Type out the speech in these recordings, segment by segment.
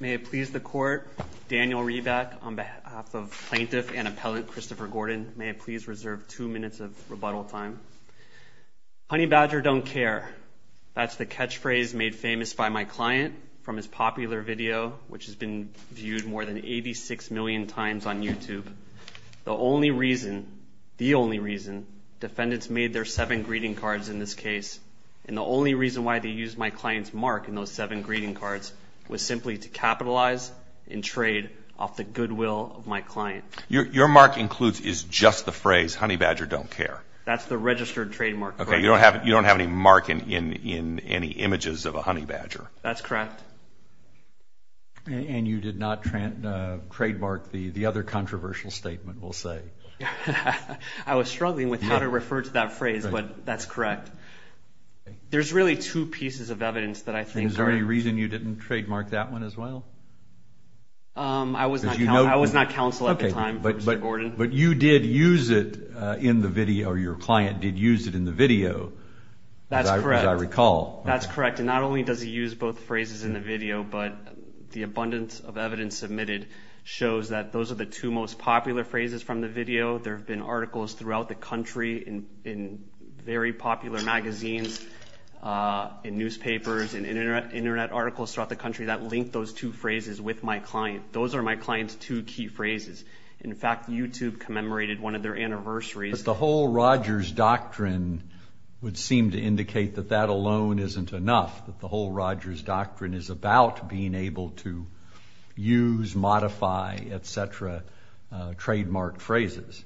May it please the court, Daniel Reback on behalf of plaintiff and appellant Christopher Gordon. May it please reserve two minutes of rebuttal time. Honey badger don't care. That's the catchphrase made famous by my client from his popular video, which has been viewed more than 86 million times on YouTube. The only reason, the only reason, defendants made their seven greeting cards in this case, and the only reason why they used my client's mark in those seven greeting cards, was simply to capitalize and trade off the goodwill of my client. Your mark includes, is just the phrase, honey badger don't care. That's the registered trademark. Okay, you don't have any mark in any images of a honey badger. That's correct. And you did not trademark the other controversial statement, we'll say. I was struggling with how to refer to that phrase, but that's correct. There's really two pieces of evidence that I think are... Is there any reason you didn't trademark that one as well? I was not counsel at the time for Mr. Gordon. But you did use it in the video, or your client did use it in the video. That's correct. As I recall. That's correct, and not only does he use both phrases in the video, but the abundance of evidence submitted shows that those are the two most popular phrases from the video. There have been articles throughout the country in very popular magazines, in newspapers, in internet articles throughout the country that link those two phrases with my client. Those are my client's two key phrases. In fact, YouTube commemorated one of their anniversaries. But the whole Rogers Doctrine would seem to indicate that that alone isn't enough, that the whole Rogers Doctrine is about being able to use, modify, et cetera, trademarked phrases.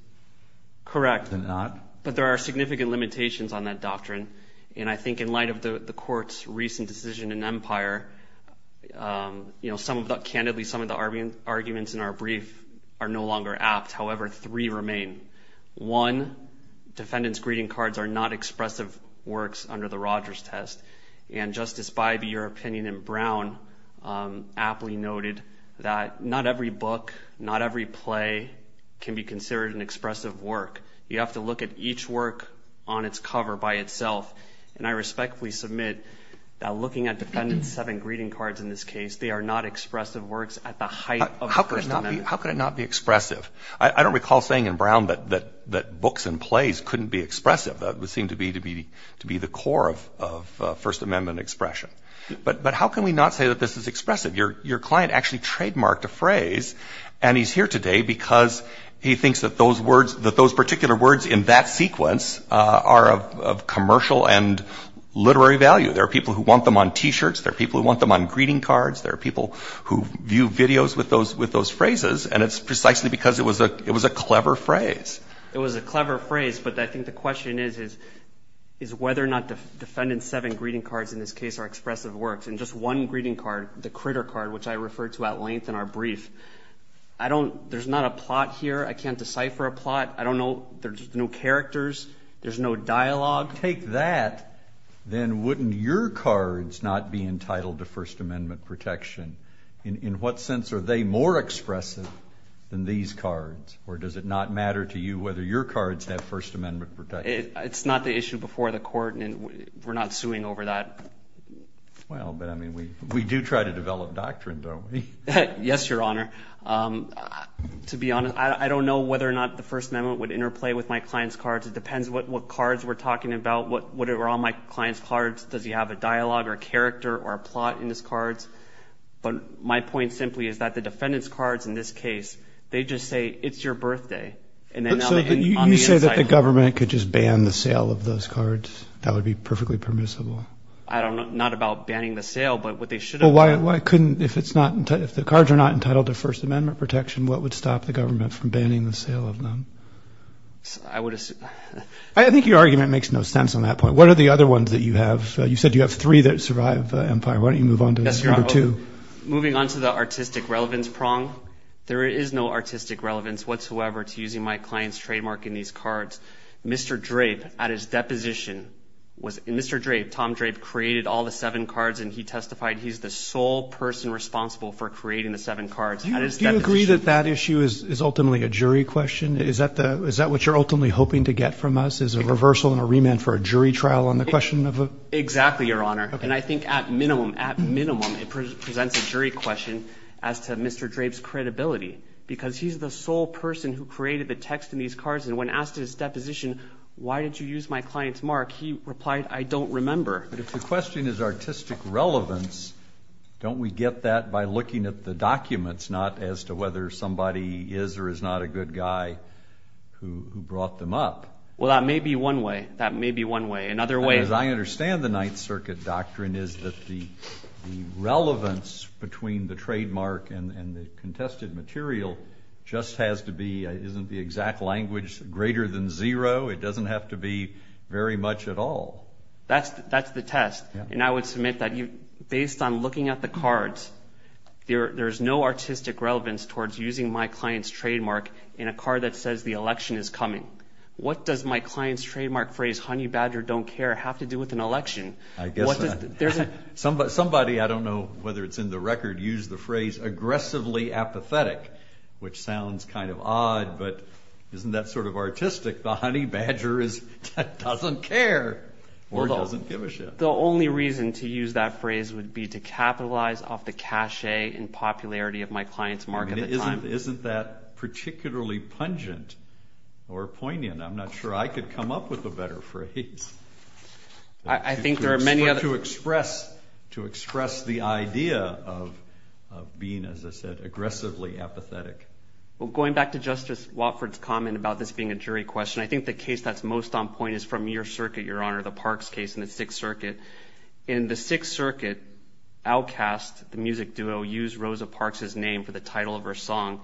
Correct. Is it not? But there are significant limitations on that doctrine. And I think in light of the court's recent decision in Empire, candidly, some of the arguments in our brief are no longer apt. However, three remain. One, defendant's greeting cards are not expressive works under the Rogers test. And Justice Bybee, your opinion in Brown aptly noted that not every book, not every play can be considered an expressive work. You have to look at each work on its cover by itself. And I respectfully submit that looking at defendant's seven greeting cards in this case, they are not expressive works at the height of the First Amendment. How could it not be expressive? I don't recall saying in Brown that books and plays couldn't be expressive. That would seem to be the core of First Amendment expression. But how can we not say that this is expressive? Your client actually trademarked a phrase, and he's here today because he thinks that those particular words in that sequence are of commercial and literary value. There are people who want them on T-shirts. There are people who want them on greeting cards. There are people who view videos with those phrases. And it's precisely because it was a clever phrase. It was a clever phrase, but I think the question is, is whether or not defendant's seven greeting cards in this case are expressive works. And just one greeting card, the critter card, which I referred to at length in our brief, I don't – there's not a plot here. I can't decipher a plot. I don't know – there's no characters. There's no dialogue. If you take that, then wouldn't your cards not be entitled to First Amendment protection? In what sense are they more expressive than these cards? Or does it not matter to you whether your cards have First Amendment protection? It's not the issue before the court, and we're not suing over that. Well, but, I mean, we do try to develop doctrine, don't we? Yes, Your Honor. To be honest, I don't know whether or not the First Amendment would interplay with my client's cards. It depends what cards we're talking about. Whatever on my client's cards, does he have a dialogue or a character or a plot in his cards? But my point simply is that the defendant's cards in this case, they just say, it's your birthday. So you say that the government could just ban the sale of those cards? That would be perfectly permissible. I don't know – not about banning the sale, but what they should have done. Well, why couldn't – if it's not – if the cards are not entitled to First Amendment protection, what would stop the government from banning the sale of them? I would – I think your argument makes no sense on that point. What are the other ones that you have? You said you have three that survive Empire. Why don't you move on to number two? Moving on to the artistic relevance prong, there is no artistic relevance whatsoever to using my client's trademark in these cards. Mr. Drape, at his deposition, was – Mr. Drape, Tom Drape created all the seven cards, and he testified he's the sole person responsible for creating the seven cards at his deposition. Do you agree that that issue is ultimately a jury question? Is that the – is that what you're ultimately hoping to get from us, is a reversal and a remand for a jury trial on the question of a – Exactly, Your Honor, and I think at minimum, at minimum, it presents a jury question as to Mr. Drape's credibility because he's the sole person who created the text in these cards, and when asked at his deposition, why did you use my client's mark, he replied, I don't remember. But if the question is artistic relevance, don't we get that by looking at the documents, not as to whether somebody is or is not a good guy who brought them up? Well, that may be one way. That may be one way. Another way – As I understand the Ninth Circuit doctrine is that the relevance between the trademark and the contested material just has to be – isn't the exact language greater than zero? It doesn't have to be very much at all. That's the test, and I would submit that based on looking at the cards, there is no artistic relevance towards using my client's trademark in a card that says the election is coming. What does my client's trademark phrase, honey badger don't care, have to do with an election? Somebody, I don't know whether it's in the record, used the phrase aggressively apathetic, which sounds kind of odd, but isn't that sort of artistic? The honey badger doesn't care or doesn't give a shit. The only reason to use that phrase would be to capitalize off the cachet and popularity of my client's mark at the time. Isn't that particularly pungent or poignant? I'm not sure I could come up with a better phrase to express the idea of being, as I said, aggressively apathetic. Going back to Justice Watford's comment about this being a jury question, I think the case that's most on point is from your circuit, Your Honor, the Parks case in the Sixth Circuit. In the Sixth Circuit, Outkast, the music duo, used Rosa Parks' name for the title of her song,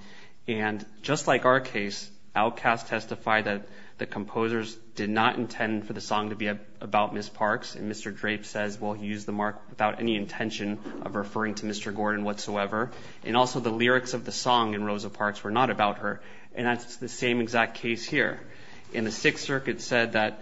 and just like our case, Outkast testified that the composers did not intend for the song to be about Ms. Parks, and Mr. Drape says, well, he used the mark without any intention of referring to Mr. Gordon whatsoever, and also the lyrics of the song and Rosa Parks were not about her, and that's the same exact case here. And the Sixth Circuit said that,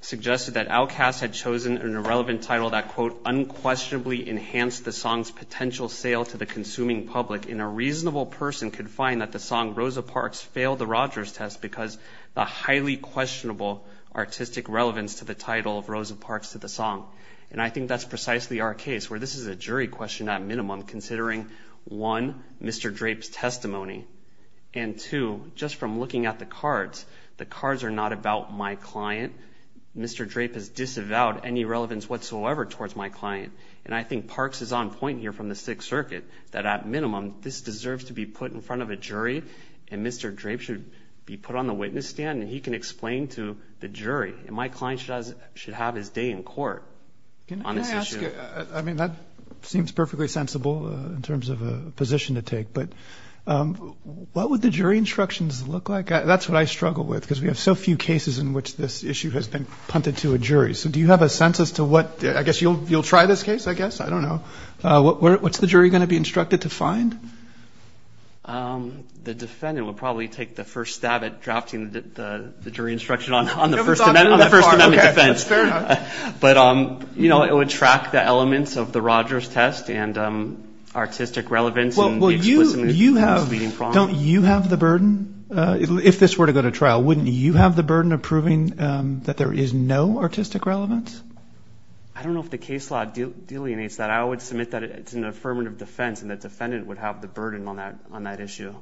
suggested that Outkast had chosen an irrelevant title that, quote, unquestionably enhanced the song's potential sale to the consuming public, and a reasonable person could find that the song Rosa Parks failed the Rogers test because the highly questionable artistic relevance to the title of Rosa Parks to the song. And I think that's precisely our case, where this is a jury question at minimum, considering, one, Mr. Drape's testimony, and two, just from looking at the cards, the cards are not about my client. Mr. Drape has disavowed any relevance whatsoever towards my client, and I think Parks is on point here from the Sixth Circuit that, at minimum, this deserves to be put in front of a jury, and Mr. Drape should be put on the witness stand, and he can explain to the jury, and my client should have his day in court on this issue. I mean, that seems perfectly sensible in terms of a position to take, but what would the jury instructions look like? That's what I struggle with because we have so few cases in which this issue has been punted to a jury. So do you have a sense as to what – I guess you'll try this case, I guess? I don't know. What's the jury going to be instructed to find? The defendant would probably take the first stab at drafting the jury instruction on the First Amendment defense. But, you know, it would track the elements of the Rogers test and artistic relevance. Don't you have the burden? If this were to go to trial, wouldn't you have the burden of proving that there is no artistic relevance? I don't know if the case law delineates that. I would submit that it's an affirmative defense, and the defendant would have the burden on that issue.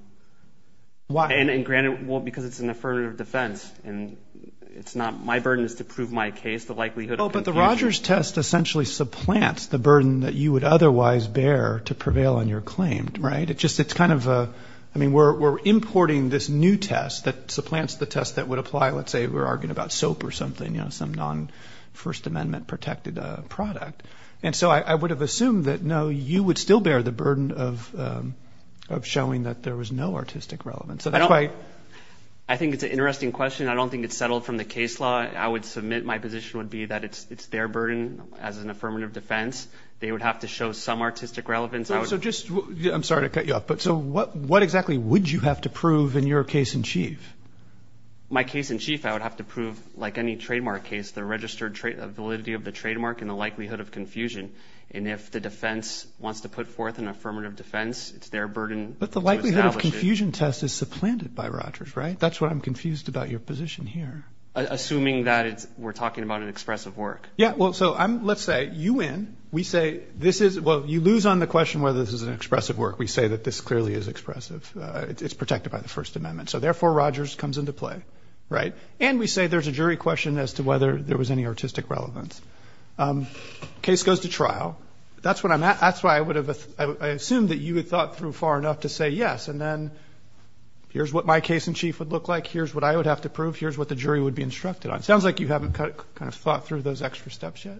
Why? And granted, well, because it's an affirmative defense, and it's not my burden. It's to prove my case, the likelihood of confusion. But the Rogers test essentially supplants the burden that you would otherwise bear to prevail on your claim, right? It just – it's kind of a – I mean, we're importing this new test that supplants the test that would apply, let's say we're arguing about soap or something, you know, some non-First Amendment-protected product. And so I would have assumed that, no, you would still bear the burden of showing that there was no artistic relevance. I think it's an interesting question. I don't think it's settled from the case law. I would submit my position would be that it's their burden as an affirmative defense. They would have to show some artistic relevance. So just – I'm sorry to cut you off, but so what exactly would you have to prove in your case in chief? My case in chief, I would have to prove, like any trademark case, the registered validity of the trademark and the likelihood of confusion. And if the defense wants to put forth an affirmative defense, it's their burden to establish it. But the likelihood of confusion test is supplanted by Rogers, right? That's what I'm confused about your position here. Assuming that it's – we're talking about an expressive work. Yeah, well, so I'm – let's say you win. We say this is – well, you lose on the question whether this is an expressive work. We say that this clearly is expressive. It's protected by the First Amendment. So, therefore, Rogers comes into play, right? And we say there's a jury question as to whether there was any artistic relevance. Case goes to trial. That's what I'm at. That's why I would have – I assume that you had thought through far enough to say yes, and then here's what my case in chief would look like. Here's what I would have to prove. Here's what the jury would be instructed on. It sounds like you haven't kind of thought through those extra steps yet.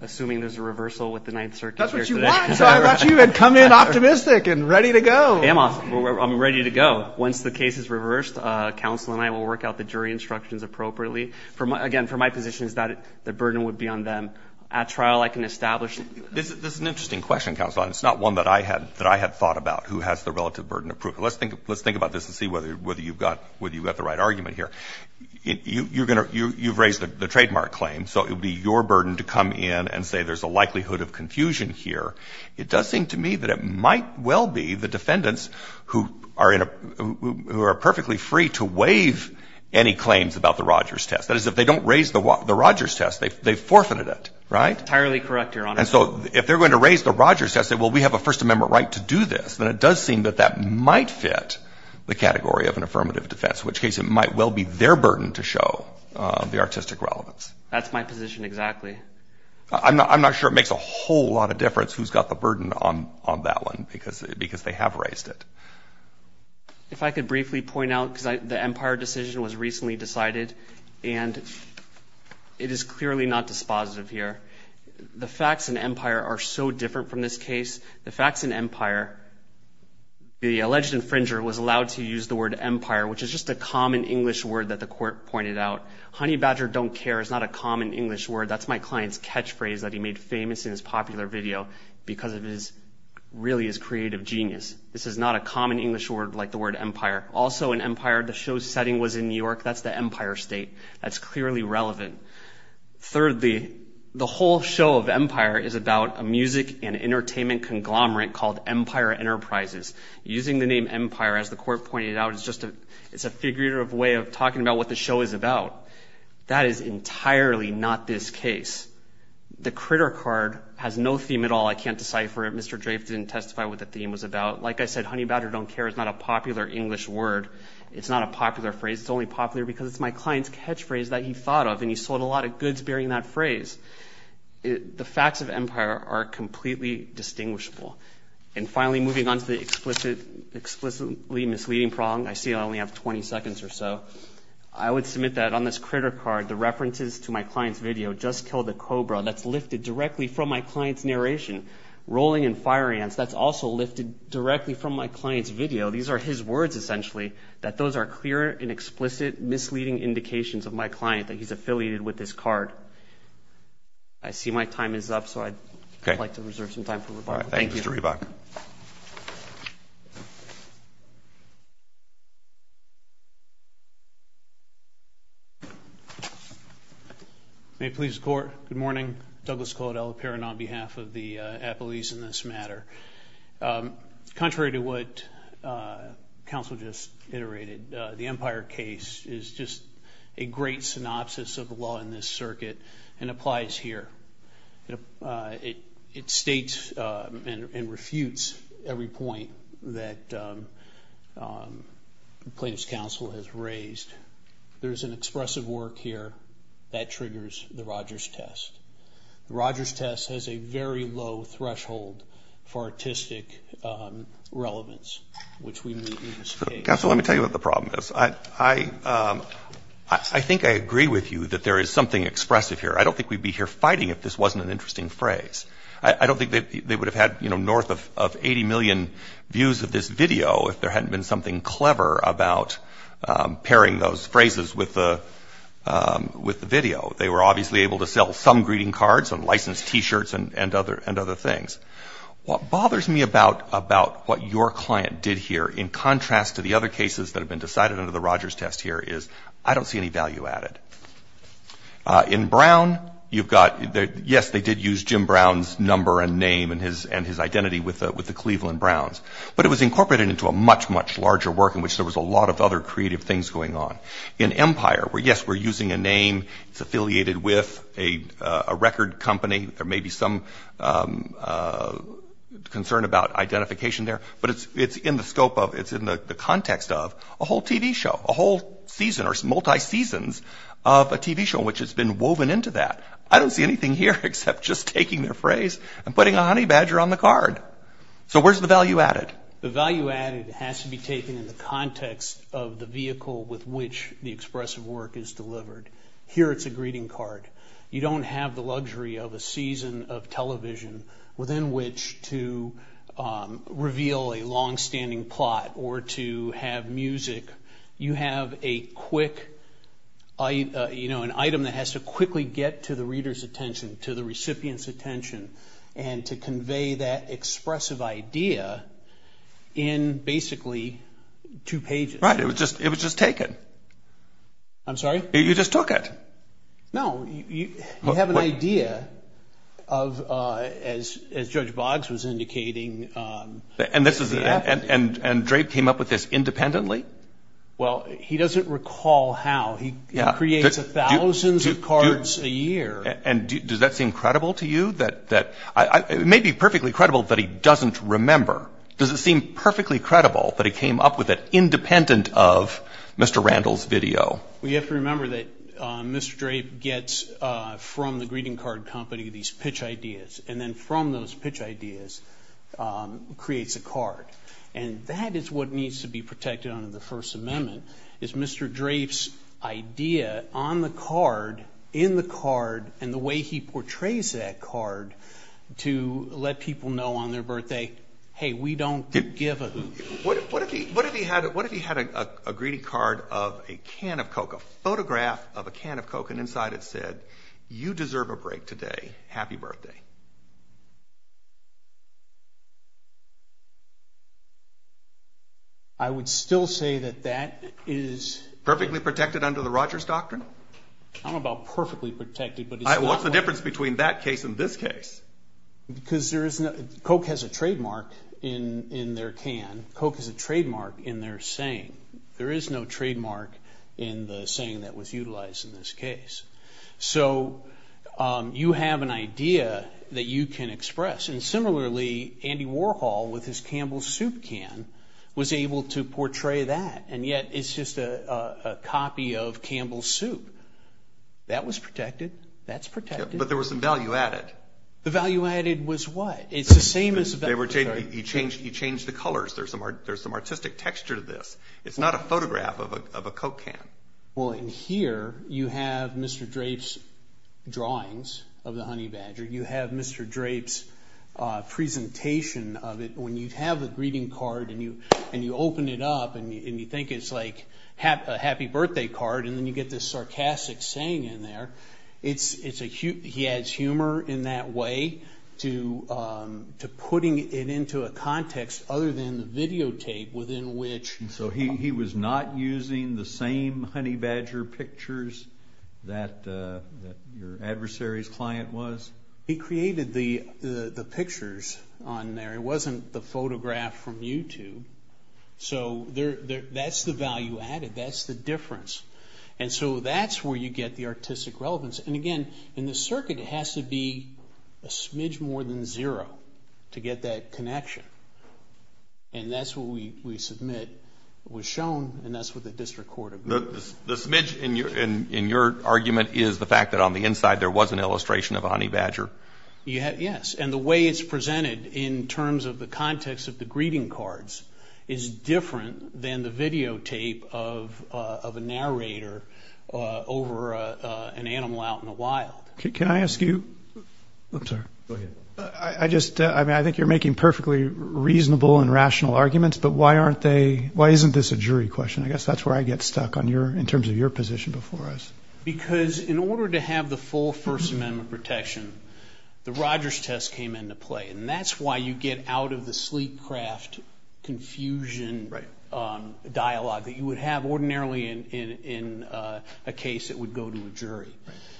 Assuming there's a reversal with the Ninth Circuit here today. That's what you want. So I thought you had come in optimistic and ready to go. I am ready to go. Once the case is reversed, counsel and I will work out the jury instructions appropriately. Again, for my position is that the burden would be on them. At trial, I can establish. This is an interesting question, counsel. It's not one that I had thought about, who has the relative burden of proof. Let's think about this and see whether you've got the right argument here. You've raised the trademark claim, so it would be your burden to come in and say there's a likelihood of confusion here. It does seem to me that it might well be the defendants who are perfectly free to waive any claims about the Rogers test. That is, if they don't raise the Rogers test, they've forfeited it, right? Entirely correct, Your Honor. And so if they're going to raise the Rogers test and say, well, we have a First Amendment right to do this, then it does seem that that might fit the category of an affirmative defense, which case it might well be their burden to show the artistic relevance. That's my position exactly. I'm not sure it makes a whole lot of difference who's got the burden on that one because they have raised it. If I could briefly point out, the Empire decision was recently decided, and it is clearly not dispositive here. The facts in Empire are so different from this case. The facts in Empire, the alleged infringer was allowed to use the word Empire, which is just a common English word that the court pointed out. Honey badger don't care is not a common English word. That's my client's catchphrase that he made famous in his popular video because it really is creative genius. This is not a common English word like the word Empire. Also in Empire, the show's setting was in New York. That's the Empire State. That's clearly relevant. Thirdly, the whole show of Empire is about a music and entertainment conglomerate called Empire Enterprises. Using the name Empire, as the court pointed out, is just a figurative way of talking about what the show is about. That is entirely not this case. The Critter card has no theme at all. I can't decipher it. Mr. Drafe didn't testify what the theme was about. Like I said, honey badger don't care is not a popular English word. It's not a popular phrase. It's only popular because it's my client's catchphrase that he thought of, and he sold a lot of goods bearing that phrase. The facts of Empire are completely distinguishable. And finally, moving on to the explicitly misleading prong, I see I only have 20 seconds or so. I would submit that on this Critter card, the references to my client's video, Just Kill the Cobra, that's lifted directly from my client's narration. Rolling and Firing Ants, that's also lifted directly from my client's video. These are his words, essentially, that those are clear and explicit misleading indications of my client that he's affiliated with this card. I see my time is up, so I'd like to reserve some time for rebuttal. All right, thank you, Mr. Reebok. May it please the Court, good morning. Douglas Caudill appearing on behalf of the appellees in this matter. Contrary to what counsel just iterated, the Empire case is just a great synopsis of the law in this circuit and applies here. It states and refutes every point that plaintiff's counsel has raised. There is an expressive work here that triggers the Rogers test. The Rogers test has a very low threshold for artistic relevance, which we meet in this case. Counsel, let me tell you what the problem is. I think I agree with you that there is something expressive here. I don't think we'd be here fighting if this wasn't an interesting phrase. I don't think they would have had north of 80 million views of this video if there hadn't been something clever about pairing those phrases with the video. They were obviously able to sell some greeting cards and licensed T-shirts and other things. What bothers me about what your client did here in contrast to the other cases that have been decided under the Rogers test here is I don't see any value added. In Brown, yes, they did use Jim Brown's number and name and his identity with the Cleveland Browns, but it was incorporated into a much, much larger work in which there was a lot of other creative things going on. In Empire, yes, we're using a name. It's affiliated with a record company. There may be some concern about identification there, but it's in the context of a whole TV show, a whole season or multi seasons of a TV show in which it's been woven into that. I don't see anything here except just taking their phrase and putting a honey badger on the card. So where's the value added? The value added has to be taken in the context of the vehicle with which the expressive work is delivered. Here it's a greeting card. You don't have the luxury of a season of television within which to reveal a longstanding plot or to have music. You have a quick, you know, an item that has to quickly get to the reader's attention, to the recipient's attention, and to convey that expressive idea in basically two pages. Right. It was just taken. I'm sorry? You just took it. No. You have an idea of, as Judge Boggs was indicating. And Drape came up with this independently? Well, he doesn't recall how. He creates thousands of cards a year. And does that seem credible to you? It may be perfectly credible, but he doesn't remember. Does it seem perfectly credible that he came up with it independent of Mr. Randall's video? Well, you have to remember that Mr. Drape gets from the greeting card company these pitch ideas, and then from those pitch ideas creates a card. And that is what needs to be protected under the First Amendment is Mr. Drape's idea on the card, in the card, and the way he portrays that card to let people know on their birthday, hey, we don't give a hoot. What if he had a greeting card of a can of Coke, a photograph of a can of Coke, and inside it said, you deserve a break today. Happy birthday. I would still say that that is. Perfectly protected under the Rogers Doctrine? I'm about perfectly protected, but it's not. What's the difference between that case and this case? Because there is no. Coke has a trademark in their can. Coke has a trademark in their saying. There is no trademark in the saying that was utilized in this case. So you have an idea that you can express. And similarly, Andy Warhol with his Campbell's Soup can was able to portray that, and yet it's just a copy of Campbell's Soup. That was protected. That's protected. But there was some value added. The value added was what? It's the same as. You changed the colors. There's some artistic texture to this. It's not a photograph of a Coke can. Well, in here you have Mr. Drape's drawings of the honey badger. You have Mr. Drape's presentation of it. When you have the greeting card and you open it up and you think it's like a happy birthday card and then you get this sarcastic saying in there, he adds humor in that way to putting it into a context other than the videotape within which. So he was not using the same honey badger pictures that your adversary's client was? He created the pictures on there. It wasn't the photograph from YouTube. So that's the value added. That's the difference. And so that's where you get the artistic relevance. And, again, in the circuit it has to be a smidge more than zero to get that connection. And that's what we submit was shown, and that's what the district court agreed. The smidge in your argument is the fact that on the inside there was an illustration of a honey badger? Yes. And the way it's presented in terms of the context of the greeting cards is different than the videotape of a narrator over an animal out in the wild. Can I ask you? I'm sorry. Go ahead. I think you're making perfectly reasonable and rational arguments, but why aren't they? Why isn't this a jury question? I guess that's where I get stuck in terms of your position before us. Because in order to have the full First Amendment protection, the Rogers test came into play, and that's why you get out of the sleek craft confusion dialogue that you would have ordinarily in a case that would go to a jury.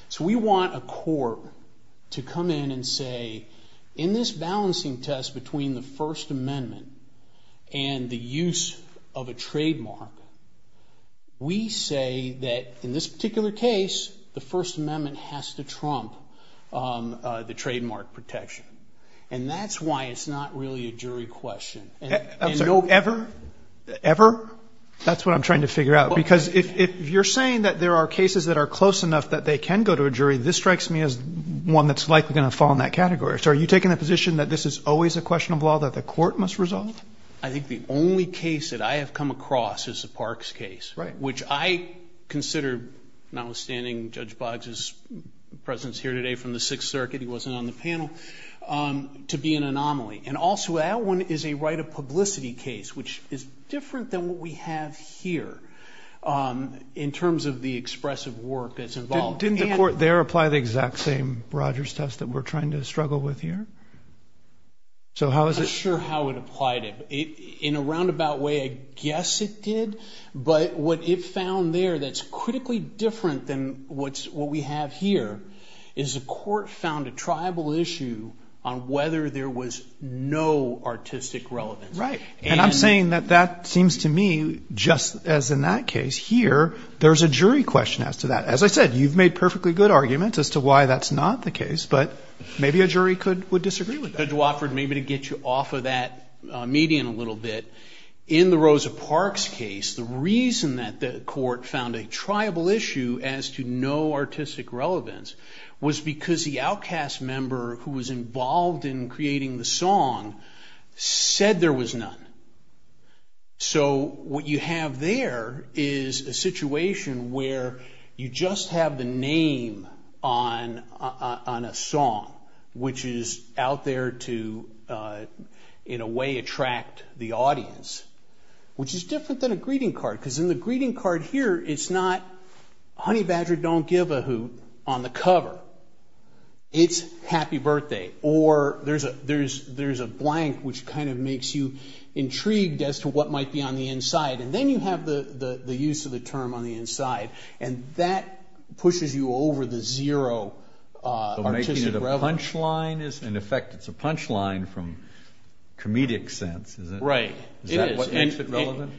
So we want a court to come in and say, in this balancing test between the First Amendment and the use of a trademark, we say that in this particular case the First Amendment has to trump the trademark protection. And that's why it's not really a jury question. Ever? Ever? That's what I'm trying to figure out. Because if you're saying that there are cases that are close enough that they can go to a jury, this strikes me as one that's likely going to fall in that category. So are you taking the position that this is always a question of law that the court must resolve? I think the only case that I have come across is the Parks case, which I consider, notwithstanding Judge Boggs' presence here today from the Sixth Circuit, he wasn't on the panel, to be an anomaly. And also that one is a right of publicity case, which is different than what we have here in terms of the expressive work that's involved. Didn't the court there apply the exact same Rogers test that we're trying to struggle with here? I'm not sure how it applied it. In a roundabout way, I guess it did. But what it found there that's critically different than what we have here is the court found a tribal issue on whether there was no artistic relevance. Right. And I'm saying that that seems to me, just as in that case here, there's a jury question as to that. As I said, you've made perfectly good arguments as to why that's not the case, but maybe a jury would disagree with that. Judge Wofford, maybe to get you off of that median a little bit, in the Rosa Parks case, the reason that the court found a tribal issue as to no artistic relevance was because the outcast member who was involved in creating the song said there was none. So what you have there is a situation where you just have the name on a song, which is out there to, in a way, attract the audience, which is different than a greeting card, because in the greeting card here, it's not, as to what might be on the inside. And then you have the use of the term on the inside, and that pushes you over the zero artistic relevance. So making it a punchline is, in effect, it's a punchline from comedic sense. Right. Is that what makes it relevant,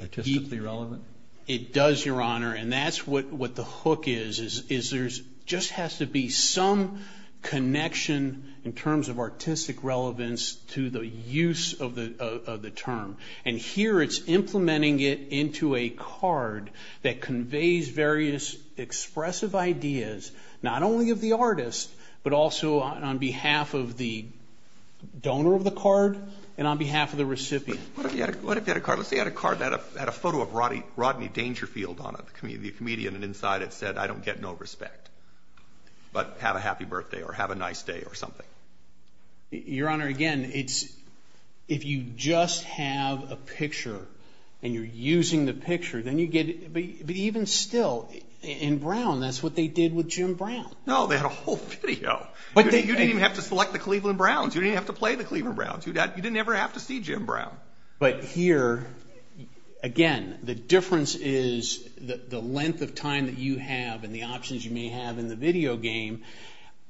artistically relevant? It does, Your Honor, and that's what the hook is, is there just has to be some connection in terms of artistic relevance to the use of the term. And here it's implementing it into a card that conveys various expressive ideas, not only of the artist, but also on behalf of the donor of the card and on behalf of the recipient. What if they had a card that had a photo of Rodney Dangerfield on it, the comedian, and inside it said, I don't get no respect, but have a happy birthday or have a nice day or something? Your Honor, again, it's if you just have a picture and you're using the picture, then you get it. But even still, in Brown, that's what they did with Jim Brown. No, they had a whole video. You didn't even have to select the Cleveland Browns. You didn't even have to play the Cleveland Browns. You didn't ever have to see Jim Brown. But here, again, the difference is the length of time that you have and the options you may have in the video game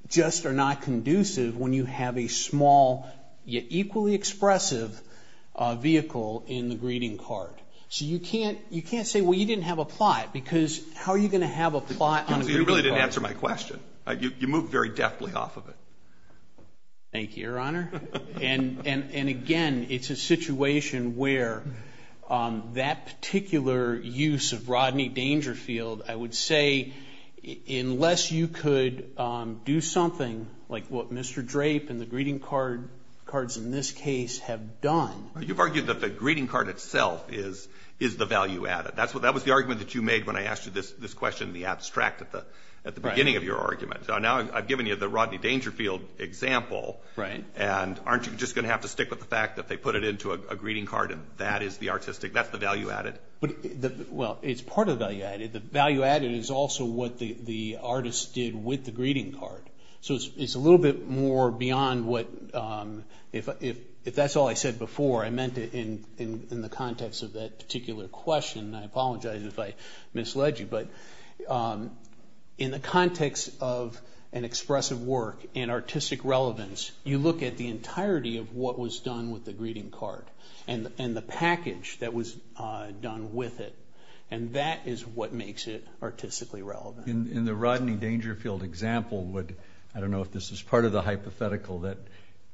just are not conducive when you have a small yet equally expressive vehicle in the greeting card. So you can't say, well, you didn't have a plot, because how are you going to have a plot on a greeting card? You really didn't answer my question. You moved very deftly off of it. Thank you, Your Honor. And, again, it's a situation where that particular use of Rodney Dangerfield, I would say, unless you could do something like what Mr. Drape and the greeting cards in this case have done. You've argued that the greeting card itself is the value added. That was the argument that you made when I asked you this question in the abstract at the beginning of your argument. So now I've given you the Rodney Dangerfield example, and aren't you just going to have to stick with the fact that they put it into a greeting card and that is the artistic, that's the value added? Well, it's part of the value added. The value added is also what the artist did with the greeting card. So it's a little bit more beyond what, if that's all I said before, I meant it in the context of that particular question. I apologize if I misled you. But in the context of an expressive work and artistic relevance, you look at the entirety of what was done with the greeting card and the package that was done with it, and that is what makes it artistically relevant. In the Rodney Dangerfield example, I don't know if this is part of the hypothetical, that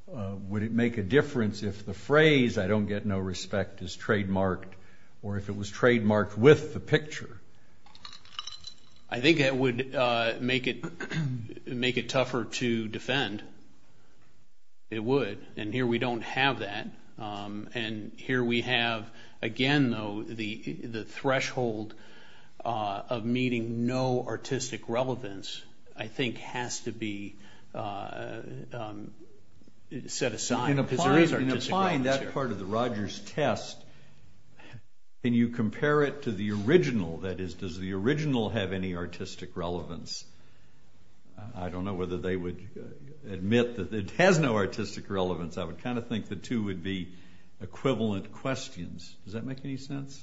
would it make a difference if the phrase, I don't get no respect, is trademarked, or if it was trademarked with the picture? I think it would make it tougher to defend. It would. And here we don't have that. And here we have, again though, the threshold of meeting no artistic relevance I think has to be set aside. In applying that part of the Rogers test, can you compare it to the original? That is, does the original have any artistic relevance? I don't know whether they would admit that it has no artistic relevance. I would kind of think the two would be equivalent questions. Does that make any sense?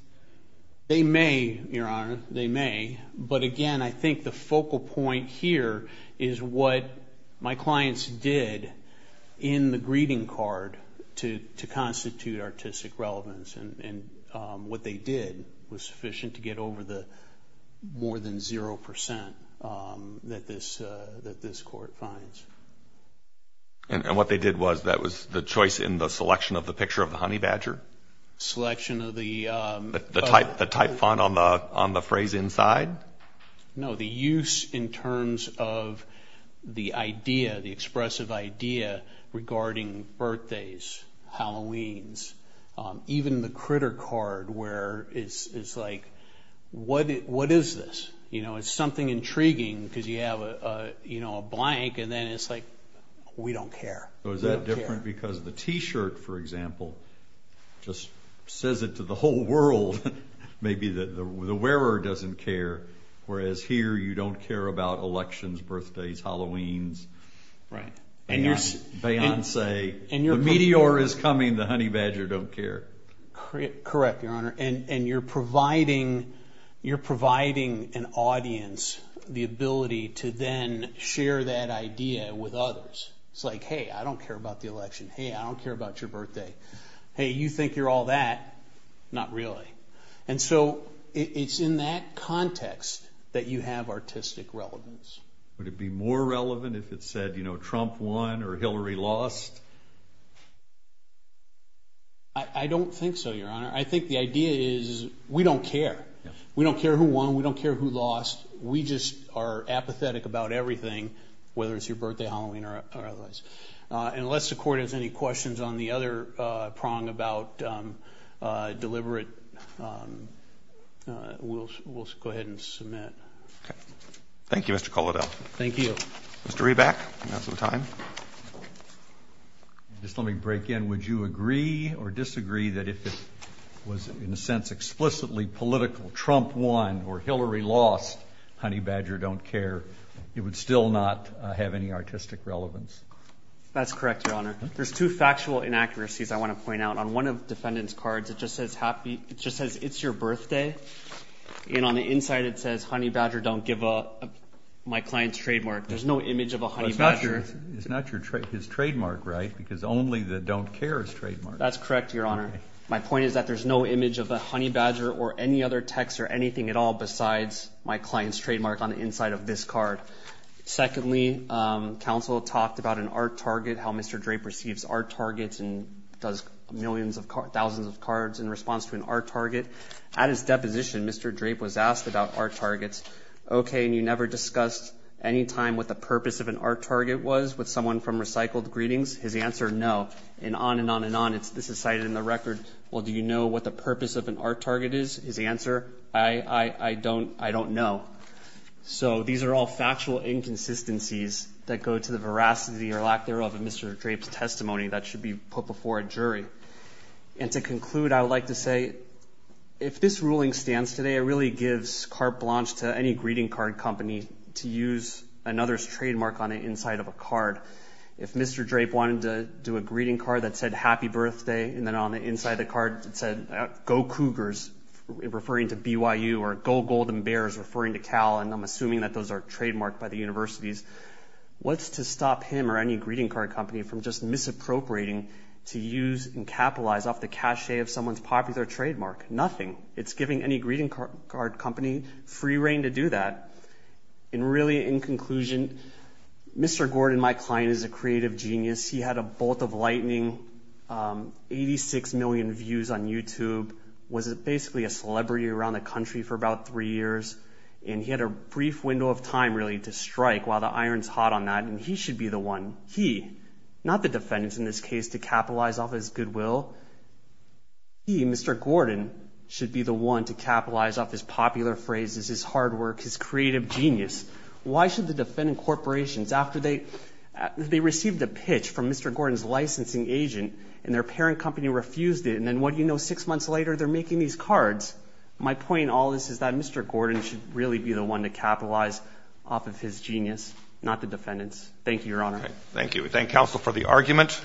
They may, Your Honor. They may. But, again, I think the focal point here is what my clients did in the greeting card to constitute artistic relevance. And what they did was sufficient to get over the more than 0% that this court finds. And what they did was, that was the choice in the selection of the picture of the honey badger? Selection of the... The type font on the phrase inside? No, the use in terms of the idea, the expressive idea regarding birthdays, Halloweens, even the critter card where it's like, what is this? It's something intriguing because you have a blank and then it's like, we don't care. Is that different because the t-shirt, for example, just says it to the whole world. Maybe the wearer doesn't care, whereas here you don't care about elections, birthdays, Halloweens, Beyonce. The meteor is coming, the honey badger don't care. Correct, Your Honor. And you're providing an audience the ability to then share that idea with others. It's like, hey, I don't care about the election. Hey, I don't care about your birthday. Hey, you think you're all that? Not really. And so it's in that context that you have artistic relevance. Would it be more relevant if it said, you know, Trump won or Hillary lost? I don't think so, Your Honor. I think the idea is we don't care. We don't care who won. We don't care who lost. We just are apathetic about everything, whether it's your birthday, Halloween, or otherwise. Unless the Court has any questions on the other prong about deliberate, we'll go ahead and submit. Okay. Thank you, Mr. Kolodell. Thank you. Mr. Reback, you have some time. Just let me break in. Would you agree or disagree that if it was, in a sense, explicitly political, Trump won or Hillary lost, Honey Badger don't care, it would still not have any artistic relevance? That's correct, Your Honor. There's two factual inaccuracies I want to point out. On one of the defendant's cards, it just says, it's your birthday. And on the inside, it says, Honey Badger don't give my client's trademark. There's no image of a Honey Badger. It's not his trademark, right? Because only the don't care is trademarked. That's correct, Your Honor. My point is that there's no image of a Honey Badger or any other text or anything at all besides my client's trademark on the inside of this card. Secondly, counsel talked about an art target, how Mr. Drape receives art targets and does thousands of cards in response to an art target. At his deposition, Mr. Drape was asked about art targets. Okay, and you never discussed any time what the purpose of an art target was with someone from Recycled Greetings? His answer, no. And on and on and on, this is cited in the record. Well, do you know what the purpose of an art target is? His answer, I don't know. So these are all factual inconsistencies that go to the veracity or lack thereof of Mr. Drape's testimony that should be put before a jury. And to conclude, I would like to say if this ruling stands today, it really gives carte blanche to any greeting card company to use another's trademark on the inside of a card. If Mr. Drape wanted to do a greeting card that said, Happy Birthday, and then on the inside of the card it said, Go Cougars, referring to BYU, or Go Golden Bears, referring to Cal, and I'm assuming that those are trademarked by the universities, what's to stop him or any greeting card company from just misappropriating to use and capitalize off the cachet of someone's popular trademark? Nothing. It's giving any greeting card company free reign to do that. And really, in conclusion, Mr. Gordon, my client, is a creative genius. He had a bolt of lightning, 86 million views on YouTube, was basically a celebrity around the country for about three years, and he had a brief window of time, really, to strike while the iron's hot on that, and he should be the one, he, not the defendants in this case, to capitalize off his goodwill. He, Mr. Gordon, should be the one to capitalize off his popular phrases, his hard work, his creative genius. Why should the defendant corporations, after they received a pitch from Mr. Gordon's licensing agent, and their parent company refused it, and then what do you know, six months later, they're making these cards? My point in all this is that Mr. Gordon should really be the one to capitalize off of his genius, not the defendants. Thank you, Your Honor. Thank you. We thank counsel for the argument.